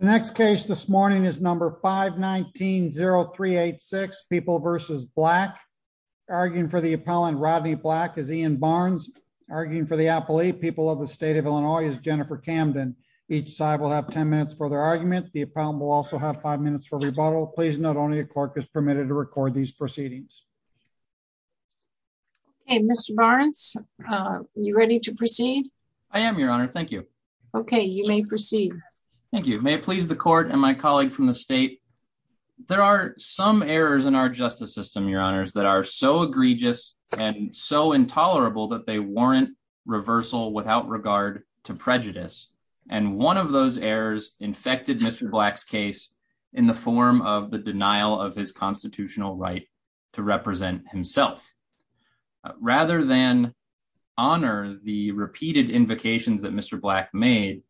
The next case this morning is number 519-0386, People v. Black. Arguing for the appellant, Rodney Black, is Ian Barnes. Arguing for the appellee, People of the State of Illinois, is Jennifer Camden. Each side will have 10 minutes for their argument. The appellant will also have five minutes for rebuttal. Please note only the clerk is permitted to record these proceedings. Okay, Mr. Barnes, are you ready to proceed? I am, Your Honor. Thank you. Okay, you may proceed. Thank you. May it please the court and my colleague from the state, there are some errors in our justice system, Your Honors, that are so egregious and so intolerable that they warrant reversal without regard to prejudice. And one of those errors infected Mr. Black's case in the form of the denial of his constitutional right to represent himself. Rather than honor the repeated invocations that Mr. Black made,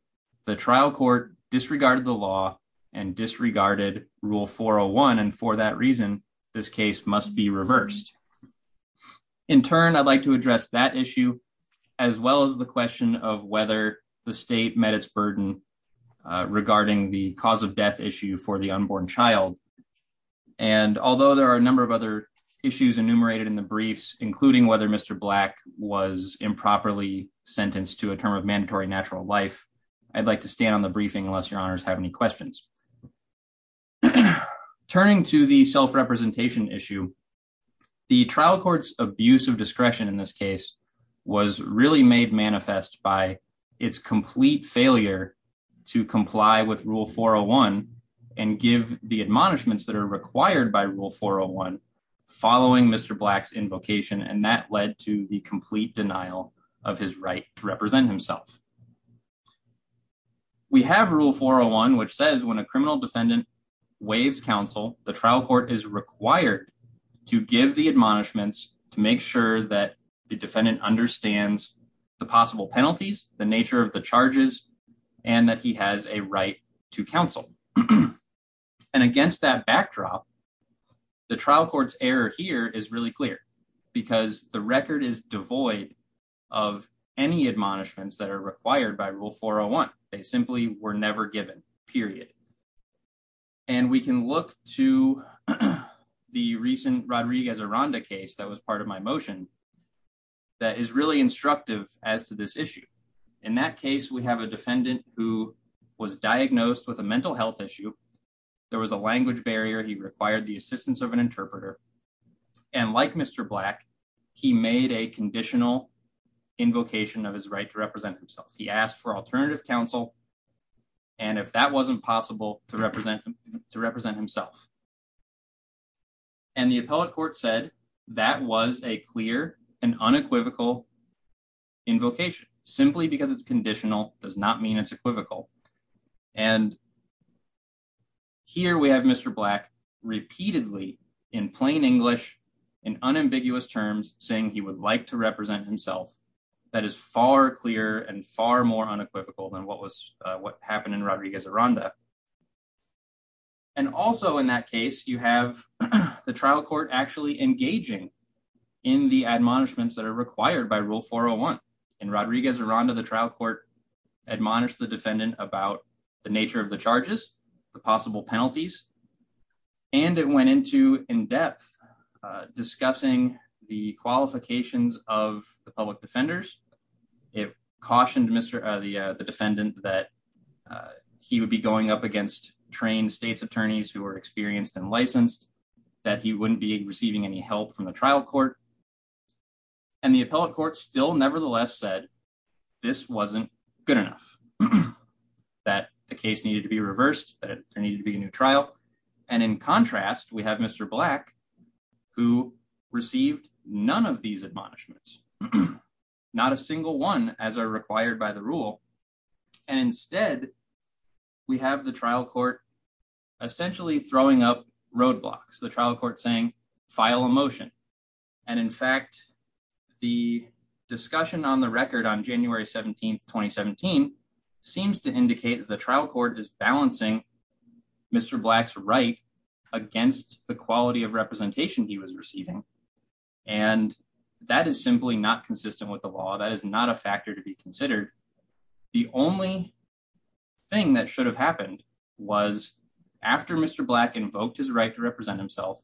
the trial court disregarded the law and disregarded Rule 401, and for that reason, this case must be reversed. In turn, I'd like to address that issue as well as the question of whether the state met its burden regarding the cause of death issue for the unborn child. And although there are a number of other issues enumerated in the briefs, including whether Mr. Black was improperly subject to mandatory natural life, I'd like to stand on the briefing unless Your Honors have any questions. Turning to the self-representation issue, the trial court's abuse of discretion in this case was really made manifest by its complete failure to comply with Rule 401 and give the admonishments that are required by Rule 401 following Mr. Black's invocation, and that led to the complete denial of his right to represent himself. We have Rule 401, which says when a criminal defendant waives counsel, the trial court is required to give the admonishments to make sure that the defendant understands the possible penalties, the nature of the charges, and that he has a right to counsel. And against that backdrop, the trial court's error here is really clear, because the record is devoid of any admonishments that are required by Rule 401. They simply were never given, period. And we can look to the recent Rodriguez-Aranda case that was part of my motion that is really instructive as to this issue. In that case, we have a defendant who was diagnosed with a mental health issue, there was a language barrier, he required the assistance of an interpreter, and like Mr. Black, he made a conditional invocation of his right to represent himself. He asked for alternative counsel, and if that wasn't possible, to represent himself. And the appellate court said that was a clear and unequivocal invocation. Simply because it's conditional does not mean it's equivocal. And here we have Mr. Black repeatedly, in plain English, in unambiguous terms, saying he would like to represent himself. That is far clearer and far more unequivocal than what happened in Rodriguez-Aranda. And also in that case, you have the trial court actually engaging in the admonishments that are required by Rule 401. In Rodriguez-Aranda, the trial court admonished the defendant about the nature of the charges, the possible penalties, and it went into in-depth discussing the qualifications of the public defenders. It cautioned the defendant that he would be going up against trained state's attorneys who are experienced and licensed, that he wouldn't be receiving any help from the trial court, and the appellate court still nevertheless said this wasn't good enough. That the case needed to be reversed, that there needed to be a new trial. And in contrast, we have Mr. Black who received none of these admonishments, not a single one, as are required by the rule. And instead, we have the trial court essentially throwing up roadblocks. The trial court saying, file a motion. And in fact, the seems to indicate that the trial court is balancing Mr. Black's right against the quality of representation he was receiving, and that is simply not consistent with the law. That is not a factor to be considered. The only thing that should have happened was after Mr. Black invoked his right to represent himself,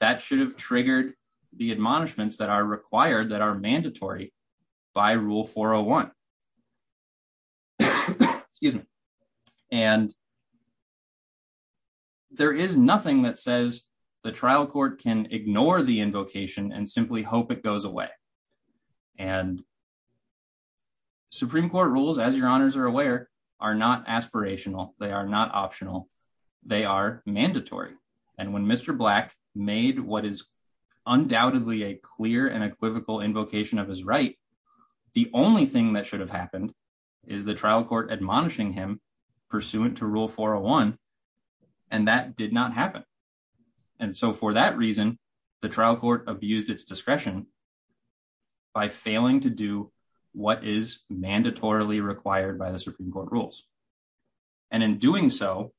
that should have triggered the excuse me, and there is nothing that says the trial court can ignore the invocation and simply hope it goes away. And Supreme Court rules, as your honors are aware, are not aspirational. They are not optional. They are mandatory. And when Mr. Black made what is undoubtedly a clear and equivocal invocation of his right, the only thing that should have happened is the trial court admonishing him pursuant to rule 401, and that did not happen. And so for that reason, the trial court abused its discretion by failing to do what is mandatorily required by the Supreme Court rules. And in doing so,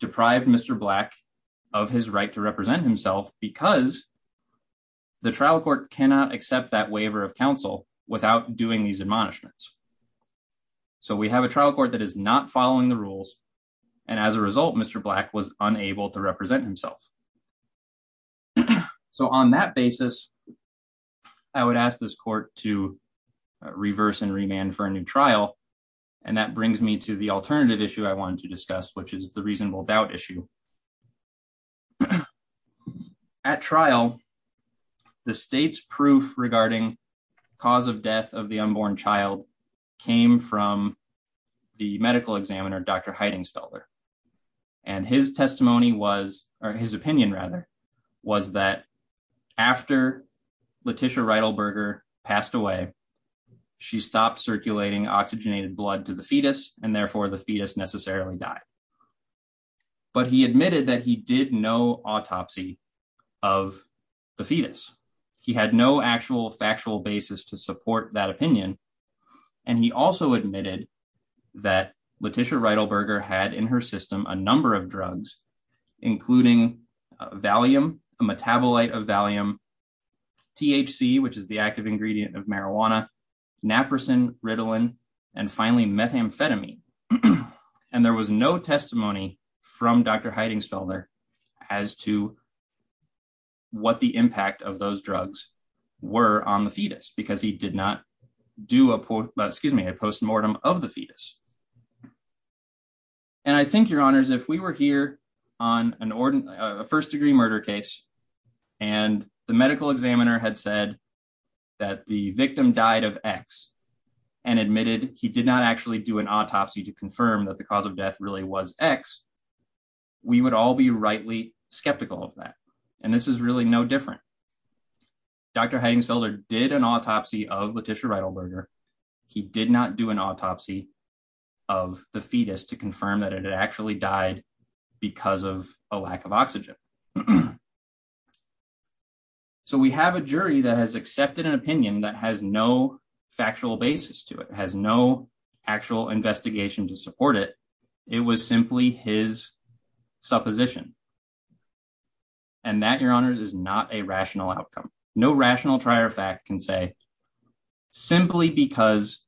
deprived Mr. Black of his right to represent himself because the trial court cannot accept that waiver of counsel without doing these admonishments. So we have a trial court that is not following the rules, and as a result, Mr. Black was unable to represent himself. So on that basis, I would ask this court to reverse and remand for a new trial, and that brings me to the alternative issue I wanted to discuss, which is the reasonable doubt issue. At trial, the state's proof regarding cause of death of the unborn child came from the medical examiner, Dr. Heidingsfelder, and his testimony was, or his opinion rather, was that after Letitia Reidelberger passed away, she stopped circulating oxygenated blood to the fetus, and therefore the fetus necessarily died. But he admitted that he did no autopsy of the fetus. He had no actual factual basis to support that opinion, and he also admitted that Letitia Reidelberger had in her system a number of drugs, including Valium, a metabolite of Valium, THC, which is the active ingredient of marijuana, naproxen, ritalin, and finally methamphetamine. And there was no testimony from Dr. Heidingsfelder as to what the impact of those drugs were on the fetus, because he did not do a postmortem of the fetus. And I think, Your Honors, if we were here on a first-degree murder case, and the medical examiner had said that the victim died of X and admitted he did not actually do an autopsy to confirm that the cause of death really was X, we would all be rightly skeptical of that, and this is really no different. Dr. Heidingsfelder did an autopsy of Letitia Reidelberger. He did not do an autopsy of the fetus to confirm that it had actually died because of a lack of oxygen. So we have a jury that has accepted an opinion that has no factual basis to it, has no actual investigation to support it. It was simply his supposition, and that, Your Honors, is not a rational outcome. No rational trier of fact can say simply because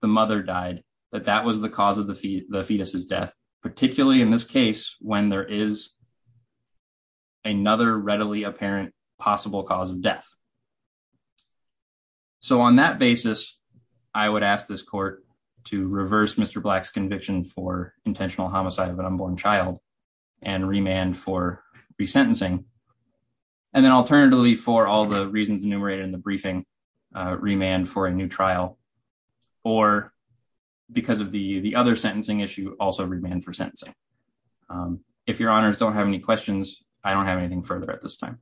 the mother died that that was the cause of the fetus's death, particularly in this case when there is another readily apparent possible cause of death. So on that basis, I would ask this court to reverse Mr. Black's conviction for intentional homicide of an unborn child and remand for resentencing, and then alternatively, for all the reasons enumerated in the briefing, remand for a new trial or, because of the other sentencing issue, also I don't have anything further at this time.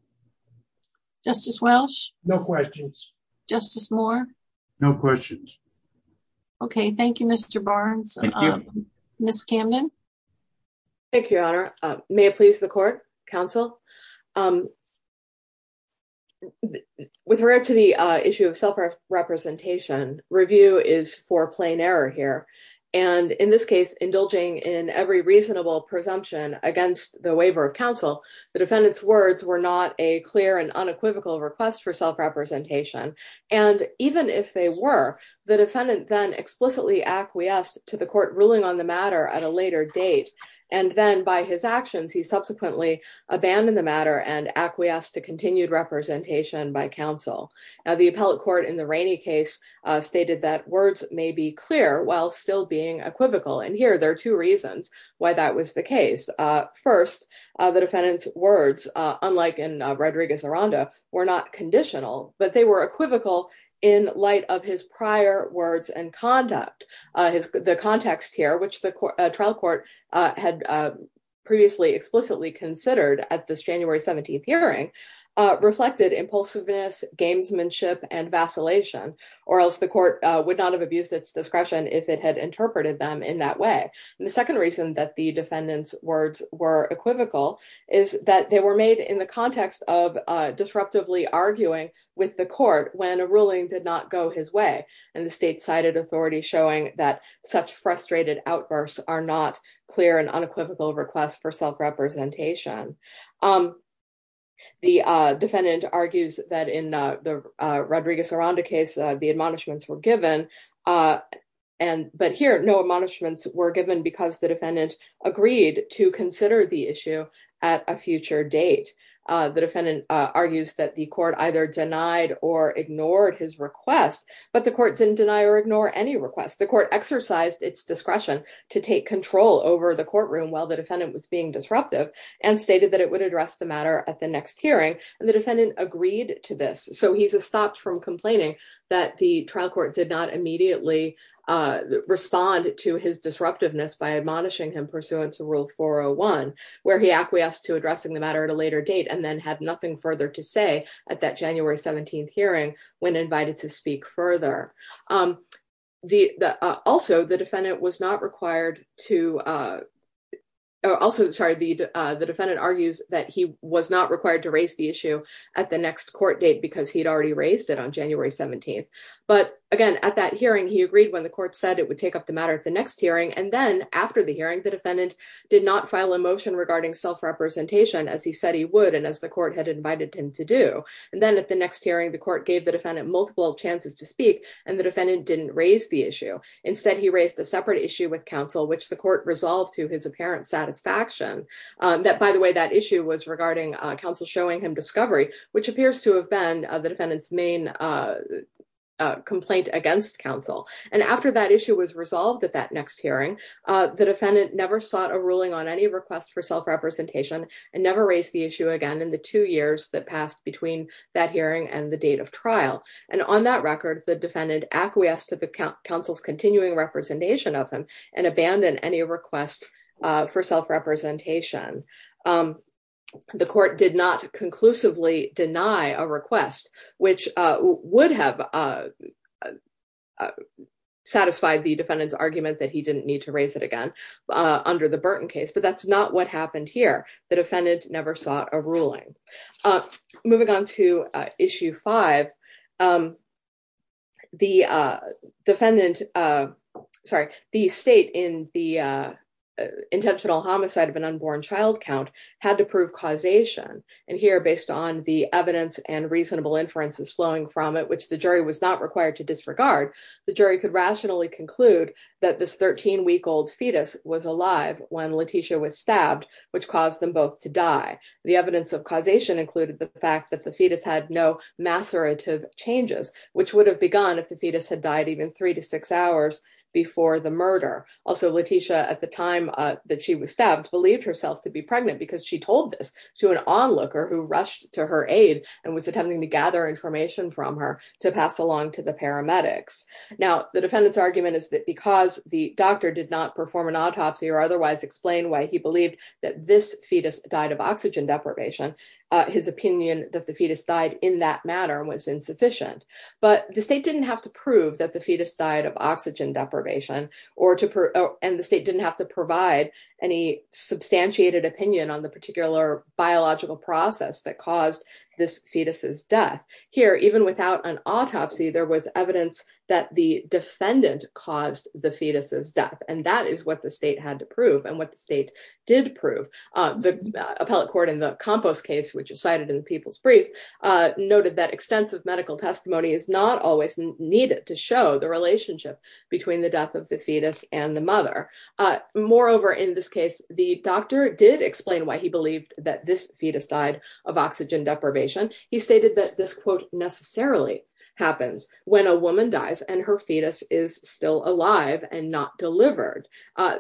Justice Welsh? No questions. Justice Moore? No questions. Okay, thank you, Mr. Barnes. Thank you. Ms. Camden? Thank you, Your Honor. May it please the court, counsel? With regard to the issue of self-representation, review is for plain error here, and in this case, indulging in every reasonable presumption against the waiver of counsel, the defendant's words were not a clear and unequivocal request for self-representation, and even if they were, the defendant then explicitly acquiesced to the court ruling on the matter at a later date, and then by his actions, he subsequently abandoned the matter and acquiesced to continued representation by counsel. Now, the appellate court in the Rainey case stated that words may be clear while still being equivocal, and here there are two reasons why that was the case. First, the defendant's words, unlike in Rodriguez-Aranda, were not conditional, but they were equivocal in light of his prior words and conduct. The context here, which the trial court had previously explicitly considered at this January 17th hearing, reflected impulsiveness, gamesmanship, and vacillation, or else the court would not have abused its discretion if it had interpreted them in that way, and the second reason that the defendant's words were equivocal is that they were made in the context of disruptively arguing with the court when a ruling did not go his way, and the state cited authority showing that such frustrated outbursts are not clear and unequivocal requests for self-representation. The defendant argues that in the Rodriguez-Aranda case the admonishments were given, but here no admonishments were given because the defendant agreed to consider the issue at a future date. The defendant argues that the court either denied or ignored his request, but the court didn't deny or ignore any request. The court exercised its discretion to take control over the courtroom while the defendant was being disruptive and stated that it would address the matter at the next hearing, and the defendant agreed to this, so he's stopped from complaining that the trial court did not immediately respond to his disruptiveness by admonishing him pursuant to Rule 401, where he acquiesced to addressing the matter at a later date and then had nothing further to say at that January 17th hearing when invited to speak further. Also, the defendant was not required to raise the issue at the next court date because he'd already raised it on January 17th, but again at that hearing he agreed when the court said it would take up the matter at the next hearing and then after the hearing the defendant did not file a motion regarding self-representation as he said he would and as the court had invited him to do, and then at the next hearing the court gave the defendant multiple chances to speak and the defendant didn't raise the issue. Instead, he raised a separate issue with counsel which the court resolved to his apparent satisfaction that, by the way, that issue was regarding counsel showing him discovery, which appears to have been the defendant's main complaint against counsel, and after that issue was resolved at that next hearing, the defendant never sought a ruling on any request for self-representation and never raised the issue again in the two years that passed between that hearing and the date of trial, and on that record the defendant acquiesced to the counsel's continuing representation of him and abandoned any request for self-representation. The court did not conclusively deny a request which would have satisfied the defendant's argument that he didn't need to raise it again under the Burton case, but that's not what happened here. The defendant never sought a ruling. Moving on to Issue 5, the defendant, sorry, the state in the intentional homicide of an unborn child count had to prove causation, and here, based on the evidence and reasonable inferences flowing from it which the jury was not required to disregard, the jury could rationally conclude that this 13-week-old fetus was alive when Letitia was stabbed, which caused them both to die. The evidence of causation included the fact that the fetus had no macerative changes, which would have begun if the fetus had died even three to six hours before the murder. Also, Letitia, at the time that she was stabbed, believed herself to be pregnant because she told this to an onlooker who rushed to her aid and was attempting to gather information from her to pass along to the paramedics. Now, the defendant's argument is that because the doctor did not perform an autopsy or otherwise explain why he believed that this fetus died of oxygen deprivation, his opinion that the fetus died in that manner was insufficient, but the state didn't have to prove that the fetus died of oxygen deprivation and the state didn't have to provide any substantiated opinion on the particular biological process that caused this fetus's death. Here, even without an autopsy, there was evidence that the defendant caused the fetus's death, and that is what the state had to prove and what the state did prove. The appellate court in the Campos case, which is cited in the People's Brief, noted that extensive medical testimony is not always needed to show the relationship between the death of the fetus and the mother. Moreover, in this case, the doctor did explain why he believed that this fetus died of oxygen deprivation. He stated that this, quote, necessarily happens when a woman dies and her fetus is still alive and not delivered,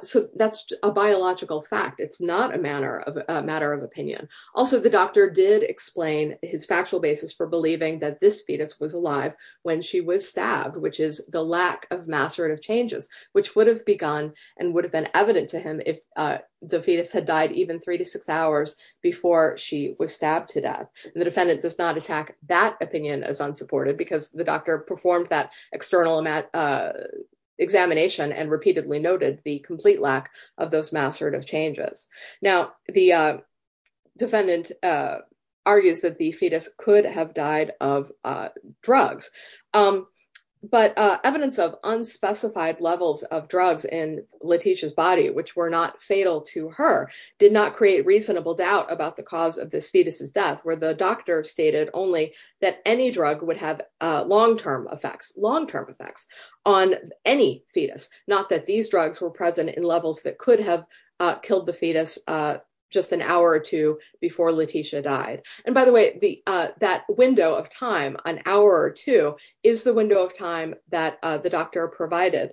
so that's a biological fact. It's not a matter of opinion. Also, the doctor did explain his factual basis for believing that this fetus was alive when she was stabbed, which is the lack of macerative changes, which would have begun and would have been evident to him if the fetus had died even three to six hours before she was stabbed to death. The defendant does not attack that opinion as unsupported because the doctor performed that external examination and repeatedly noted the complete lack of those macerative changes. Now, the defendant argues that the fetus could have died of drugs, but evidence of unspecified levels of drugs in Letitia's body, which were not fatal to her, did not create reasonable doubt about the cause of this fetus's death, where the doctor stated only that any drug would have long-term effects on any fetus, not that these drugs were present in levels that could have killed the fetus just an hour or two before Letitia died. And by the way, that window of time, an hour or two, is the window of time that the doctor provided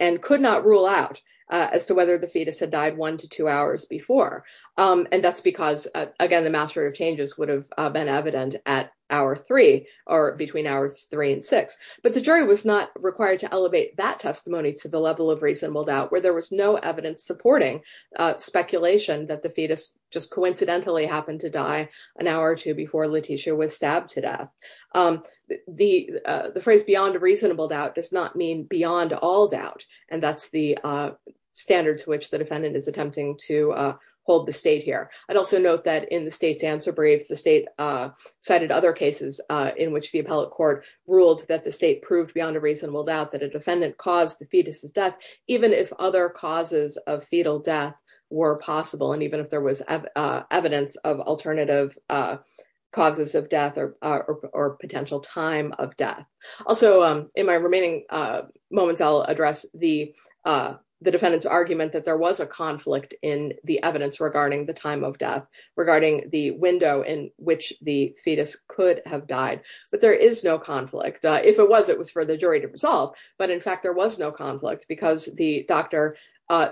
and could not rule out as to whether the fetus had died one to two hours before, and that's because, again, the macerative changes would have been evident at hour three or between hours three and six, but the jury was not required to elevate that testimony to the level of reasonable doubt, where there was no evidence supporting speculation that the fetus just coincidentally happened to die an hour or two before Letitia was stabbed to death. The phrase beyond reasonable doubt does not mean beyond all doubt, and that's the standard to which the defendant is attempting to hold the state here. I'd also note that in the state's answer brief, the state cited other cases in which the that a defendant caused the fetus's death, even if other causes of fetal death were possible, and even if there was evidence of alternative causes of death or potential time of death. Also, in my remaining moments, I'll address the defendant's argument that there was a conflict in the evidence regarding the time of death, regarding the window in which the fetus could have died, but there is no but in fact there was no conflict, because the doctor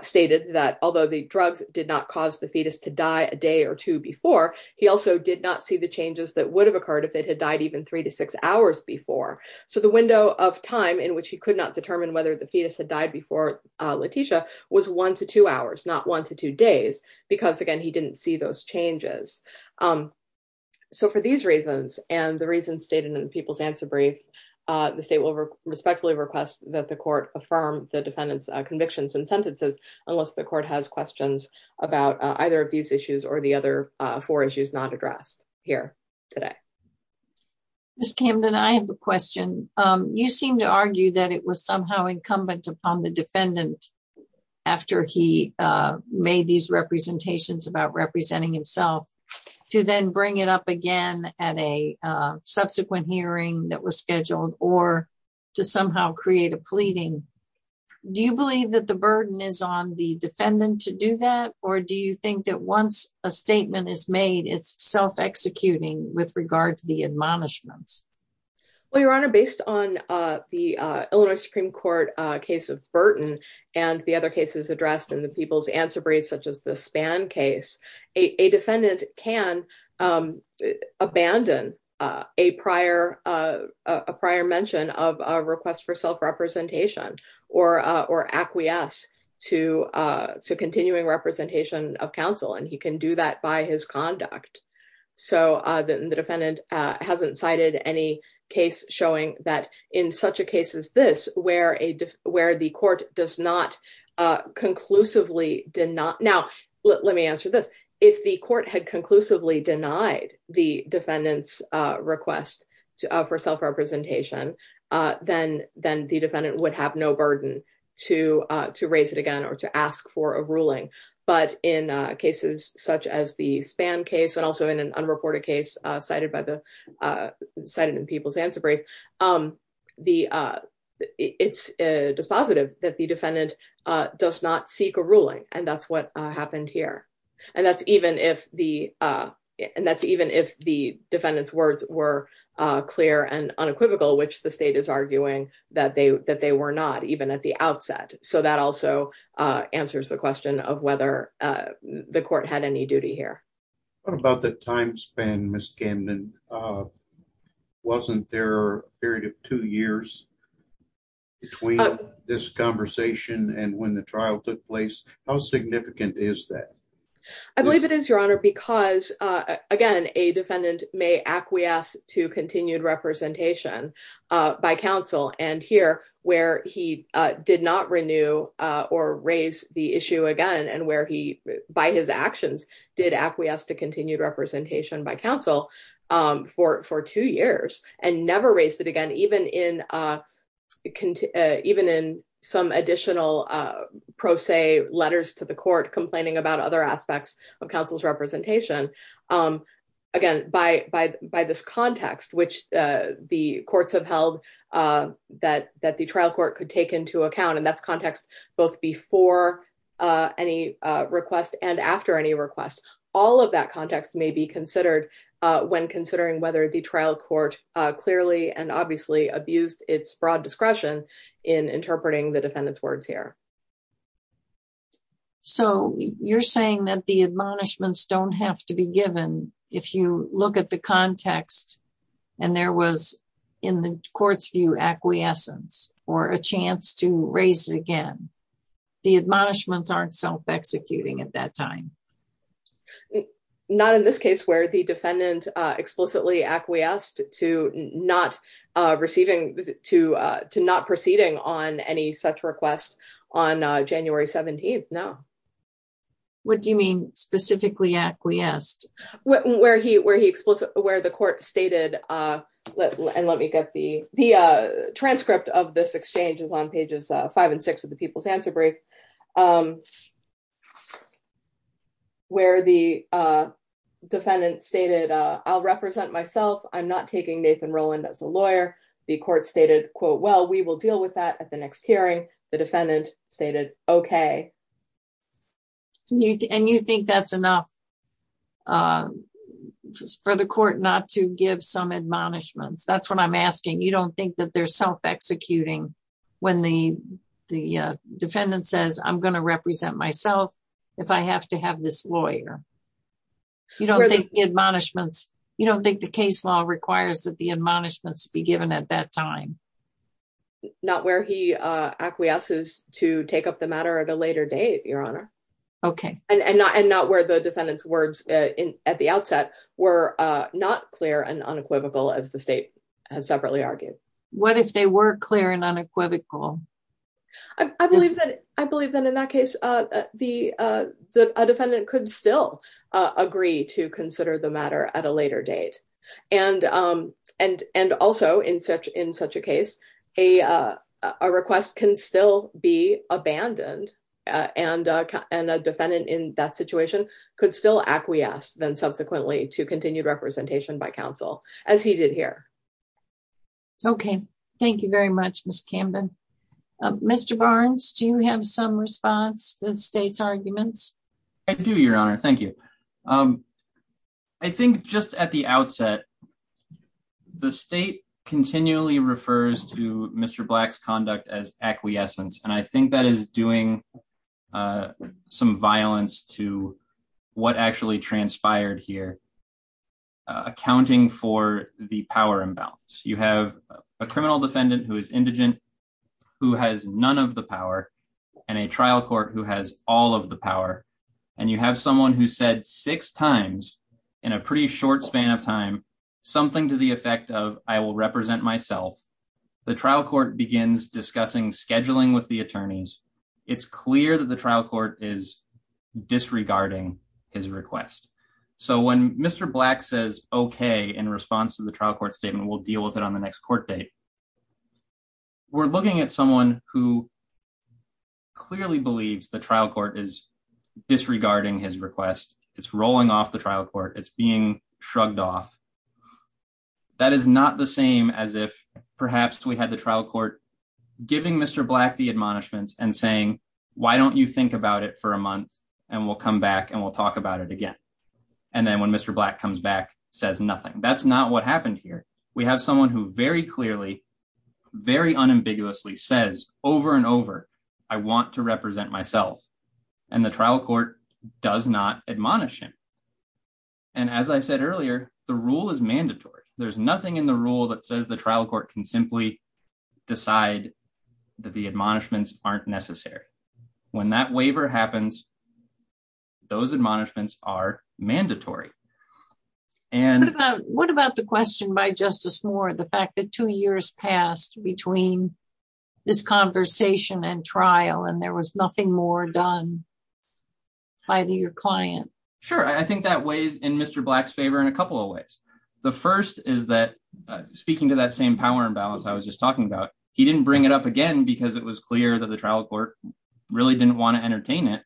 stated that although the drugs did not cause the fetus to die a day or two before, he also did not see the changes that would have occurred if it had died even three to six hours before. So the window of time in which he could not determine whether the fetus had died before Letitia was one to two hours, not one to two days, because again he didn't see those changes. So for these reasons, and the reasons stated in the people's answer brief, the state will respectfully request that the court affirm the defendant's convictions and sentences, unless the court has questions about either of these issues or the other four issues not addressed here today. Ms. Camden, I have a question. You seem to argue that it was somehow incumbent upon the defendant, after he made these representations about representing himself, to then bring it up again at a or to somehow create a pleading. Do you believe that the burden is on the defendant to do that, or do you think that once a statement is made, it's self-executing with regard to the admonishments? Well, Your Honor, based on the Illinois Supreme Court case of Burton and the other cases addressed in the people's answer brief, such as the Spann case, a defendant can abandon a prior mention of a request for self-representation or acquiesce to continuing representation of counsel, and he can do that by his conduct. So the defendant hasn't cited any case showing that in such a case as this, where the court does not conclusively deny... Now, let me answer this. If the court had conclusively denied the defendant's request for self-representation, then the defendant would have no burden to raise it again or to ask for a ruling. But in cases such as the Spann case, and also in an unreported case cited in the people's answer brief, it's dispositive that the defendant does not seek a ruling, and that's what happened here. And that's even if the defendant's words were clear and unequivocal, which the state is arguing that they were not, even at the outset. So that also answers the question of whether the court had any duty here. What about the time span, Ms. Kamnan? Wasn't there a period of two years between this conversation and when the trial took place? How significant is that? I believe it is, Your Honor, because again, a defendant may acquiesce to continued representation by counsel, and here, where he did not renew or raise the issue again, and where he, by his actions, did acquiesce to continued representation by counsel for two years and never raised it again, even in some additional pro se letters to the court complaining about other aspects of counsel's representation, again, by this context, which the courts have held that the trial court could take into account, and that's context both before any request and after any request. All of that context may be considered when considering whether the trial court clearly and obviously abused its broad discretion in interpreting the defendant's words here. So you're saying that the admonishments don't have to be given if you look at the context and there was, in the court's view, acquiescence or a chance to raise it again. The admonishments aren't self-executing at that time. Not in this case where the defendant explicitly acquiesced to not proceeding on any such request on January 17th, no. What do you mean, specifically acquiesced? Where he explicitly, where the court stated, and let me get the transcript of this exchange is on pages five and six of the people's answer brief, where the defendant stated, I'll represent myself. I'm not taking Nathan Roland as a lawyer. The court stated, quote, well, we will deal with that at the next hearing. The defendant stated, okay. And you think that's enough for the court not to give some admonishments. That's what I'm asking. You don't think that they're self-executing when the defendant says, I'm going to represent myself if I have to have this lawyer. You don't think the admonishments, you don't think the case law requires that the admonishments be given at that time. Not where he acquiesces to take up the matter at a later date, Your Honor. And not where the defendant's words at the outset were not clear and unequivocal as the state has separately argued. What if they were clear and unequivocal? I believe that in that case, a defendant could still agree to consider the matter at a later date. And also in such a case, a request can still be abandoned. And a defendant in that situation could still acquiesce then subsequently to continued representation by counsel as he did here. Okay. Thank you very much, Ms. Camden. Mr. Barnes, do you have some response to the state's arguments? I do, Your Honor. Thank you. Um, I think just at the outset, the state continually refers to Mr. Black's conduct as acquiescence. And I think that is doing some violence to what actually transpired here, accounting for the power imbalance. You have a criminal defendant who is indigent, who has none of the power, and a trial court who has all of the power. And you have someone who said six times in a pretty short span of time, something to the effect of, I will represent myself. The trial court begins discussing scheduling with the attorneys. It's clear that the trial court is disregarding his request. So when Mr. Black says, okay, in response to the trial court statement, we'll deal with it on the next court date. We're looking at someone who clearly believes the trial court is disregarding his request. It's rolling off the trial court. It's being shrugged off. That is not the same as if perhaps we had the trial court giving Mr. Black the admonishments and saying, why don't you think about it for a month? And we'll come back and we'll talk about it again. And then when Mr. Black comes back, says nothing. That's not what happened here. We have someone who very clearly, very unambiguously says over and over, I want to represent myself. And the trial court does not admonish him. And as I said earlier, the rule is mandatory. There's nothing in the rule that says the trial court can simply decide that the admonishments aren't necessary. When that waiver happens, those admonishments are mandatory. And what about the question by Justice Moore, the fact that two years passed between this conversation and trial and there was nothing more done by your client? Sure. I think that weighs in Mr. Black's favor in a couple of ways. The first is that speaking to that same power imbalance I was just talking about, he didn't bring it up again because it was clear that the trial court really didn't want to entertain it.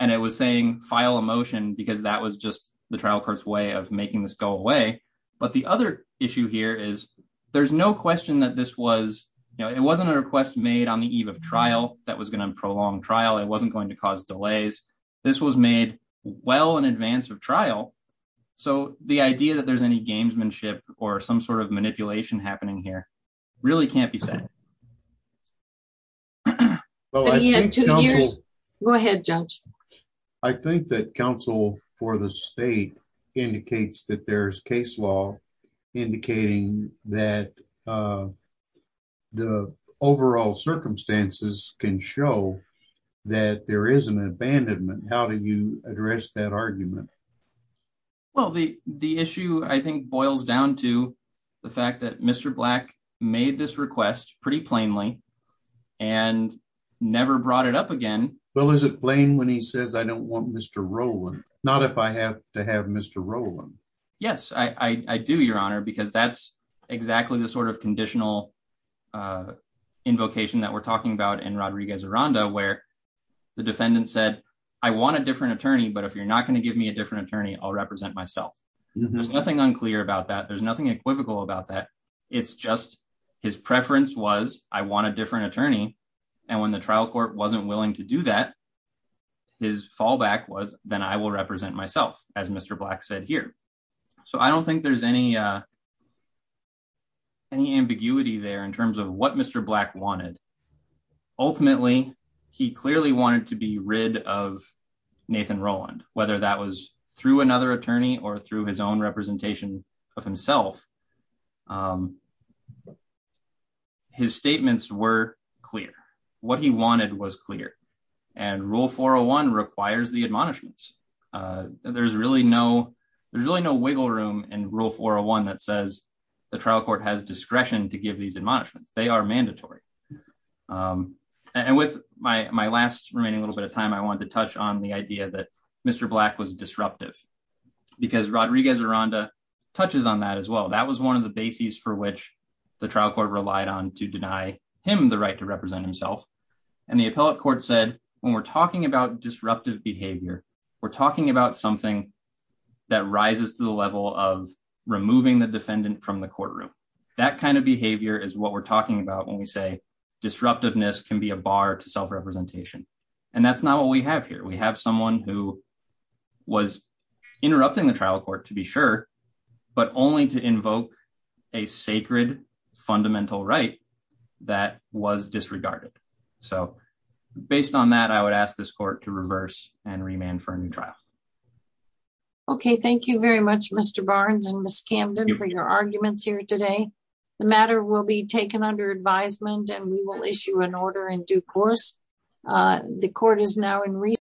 And it was saying file a motion because that was just the trial court's way of making this go away. But the other issue here is there's no question that this was, you know, it wasn't a request made on the eve of trial that was going to prolong trial. It wasn't going to cause delays. This was made well in advance of trial. So the idea that there's any gamesmanship or some sort of manipulation happening here really can't be said. Go ahead, Judge. I think that counsel for the state indicates that there's case law indicating that the overall circumstances can show that there is an abandonment. How do you address that argument? Well, the issue I think boils down to the fact that Mr. Black made this request pretty plainly and never brought it up again. Well, is it plain when he says I don't want Mr. Rowland? Not if I have to have Mr. Rowland. Yes, I do, Your Honor, because that's exactly the sort of conditional invocation that we're talking about in Rodriguez-Aranda where the defendant said, I want a different attorney, but if you're not going to give me a different attorney, I'll represent myself. There's nothing unclear about that. There's nothing equivocal about that. It's just his preference was I want a different attorney. And when the trial court wasn't willing to do that, his fallback was then I will represent myself, as Mr. Black said here. So I don't think there's any ambiguity there in terms of what Mr. Black wanted. Ultimately, he clearly wanted to be rid of Nathan Rowland, whether that was through another attorney or through his own representation of himself. But his statements were clear. What he wanted was clear. And Rule 401 requires the admonishments. There's really no wiggle room in Rule 401 that says the trial court has discretion to give these admonishments. They are mandatory. And with my last remaining little bit of time, I want to touch on the idea that Mr. Black was disruptive because Rodriguez-Aranda touches on that as well. That was one of the bases for which the trial court relied on to deny him the right to represent himself. And the appellate court said, when we're talking about disruptive behavior, we're talking about something that rises to the level of removing the defendant from the courtroom. That kind of behavior is what we're talking about when we say disruptiveness can be a bar to self-representation. And that's not what we have here. We have someone who was interrupting the trial court, to be sure, but only to invoke a sacred fundamental right that was disregarded. So based on that, I would ask this court to reverse and remand for a new trial. Okay, thank you very much, Mr. Barnes and Ms. Camden for your arguments here today. The matter will be taken under advisement and we will issue an order in due course. The court is now in recess.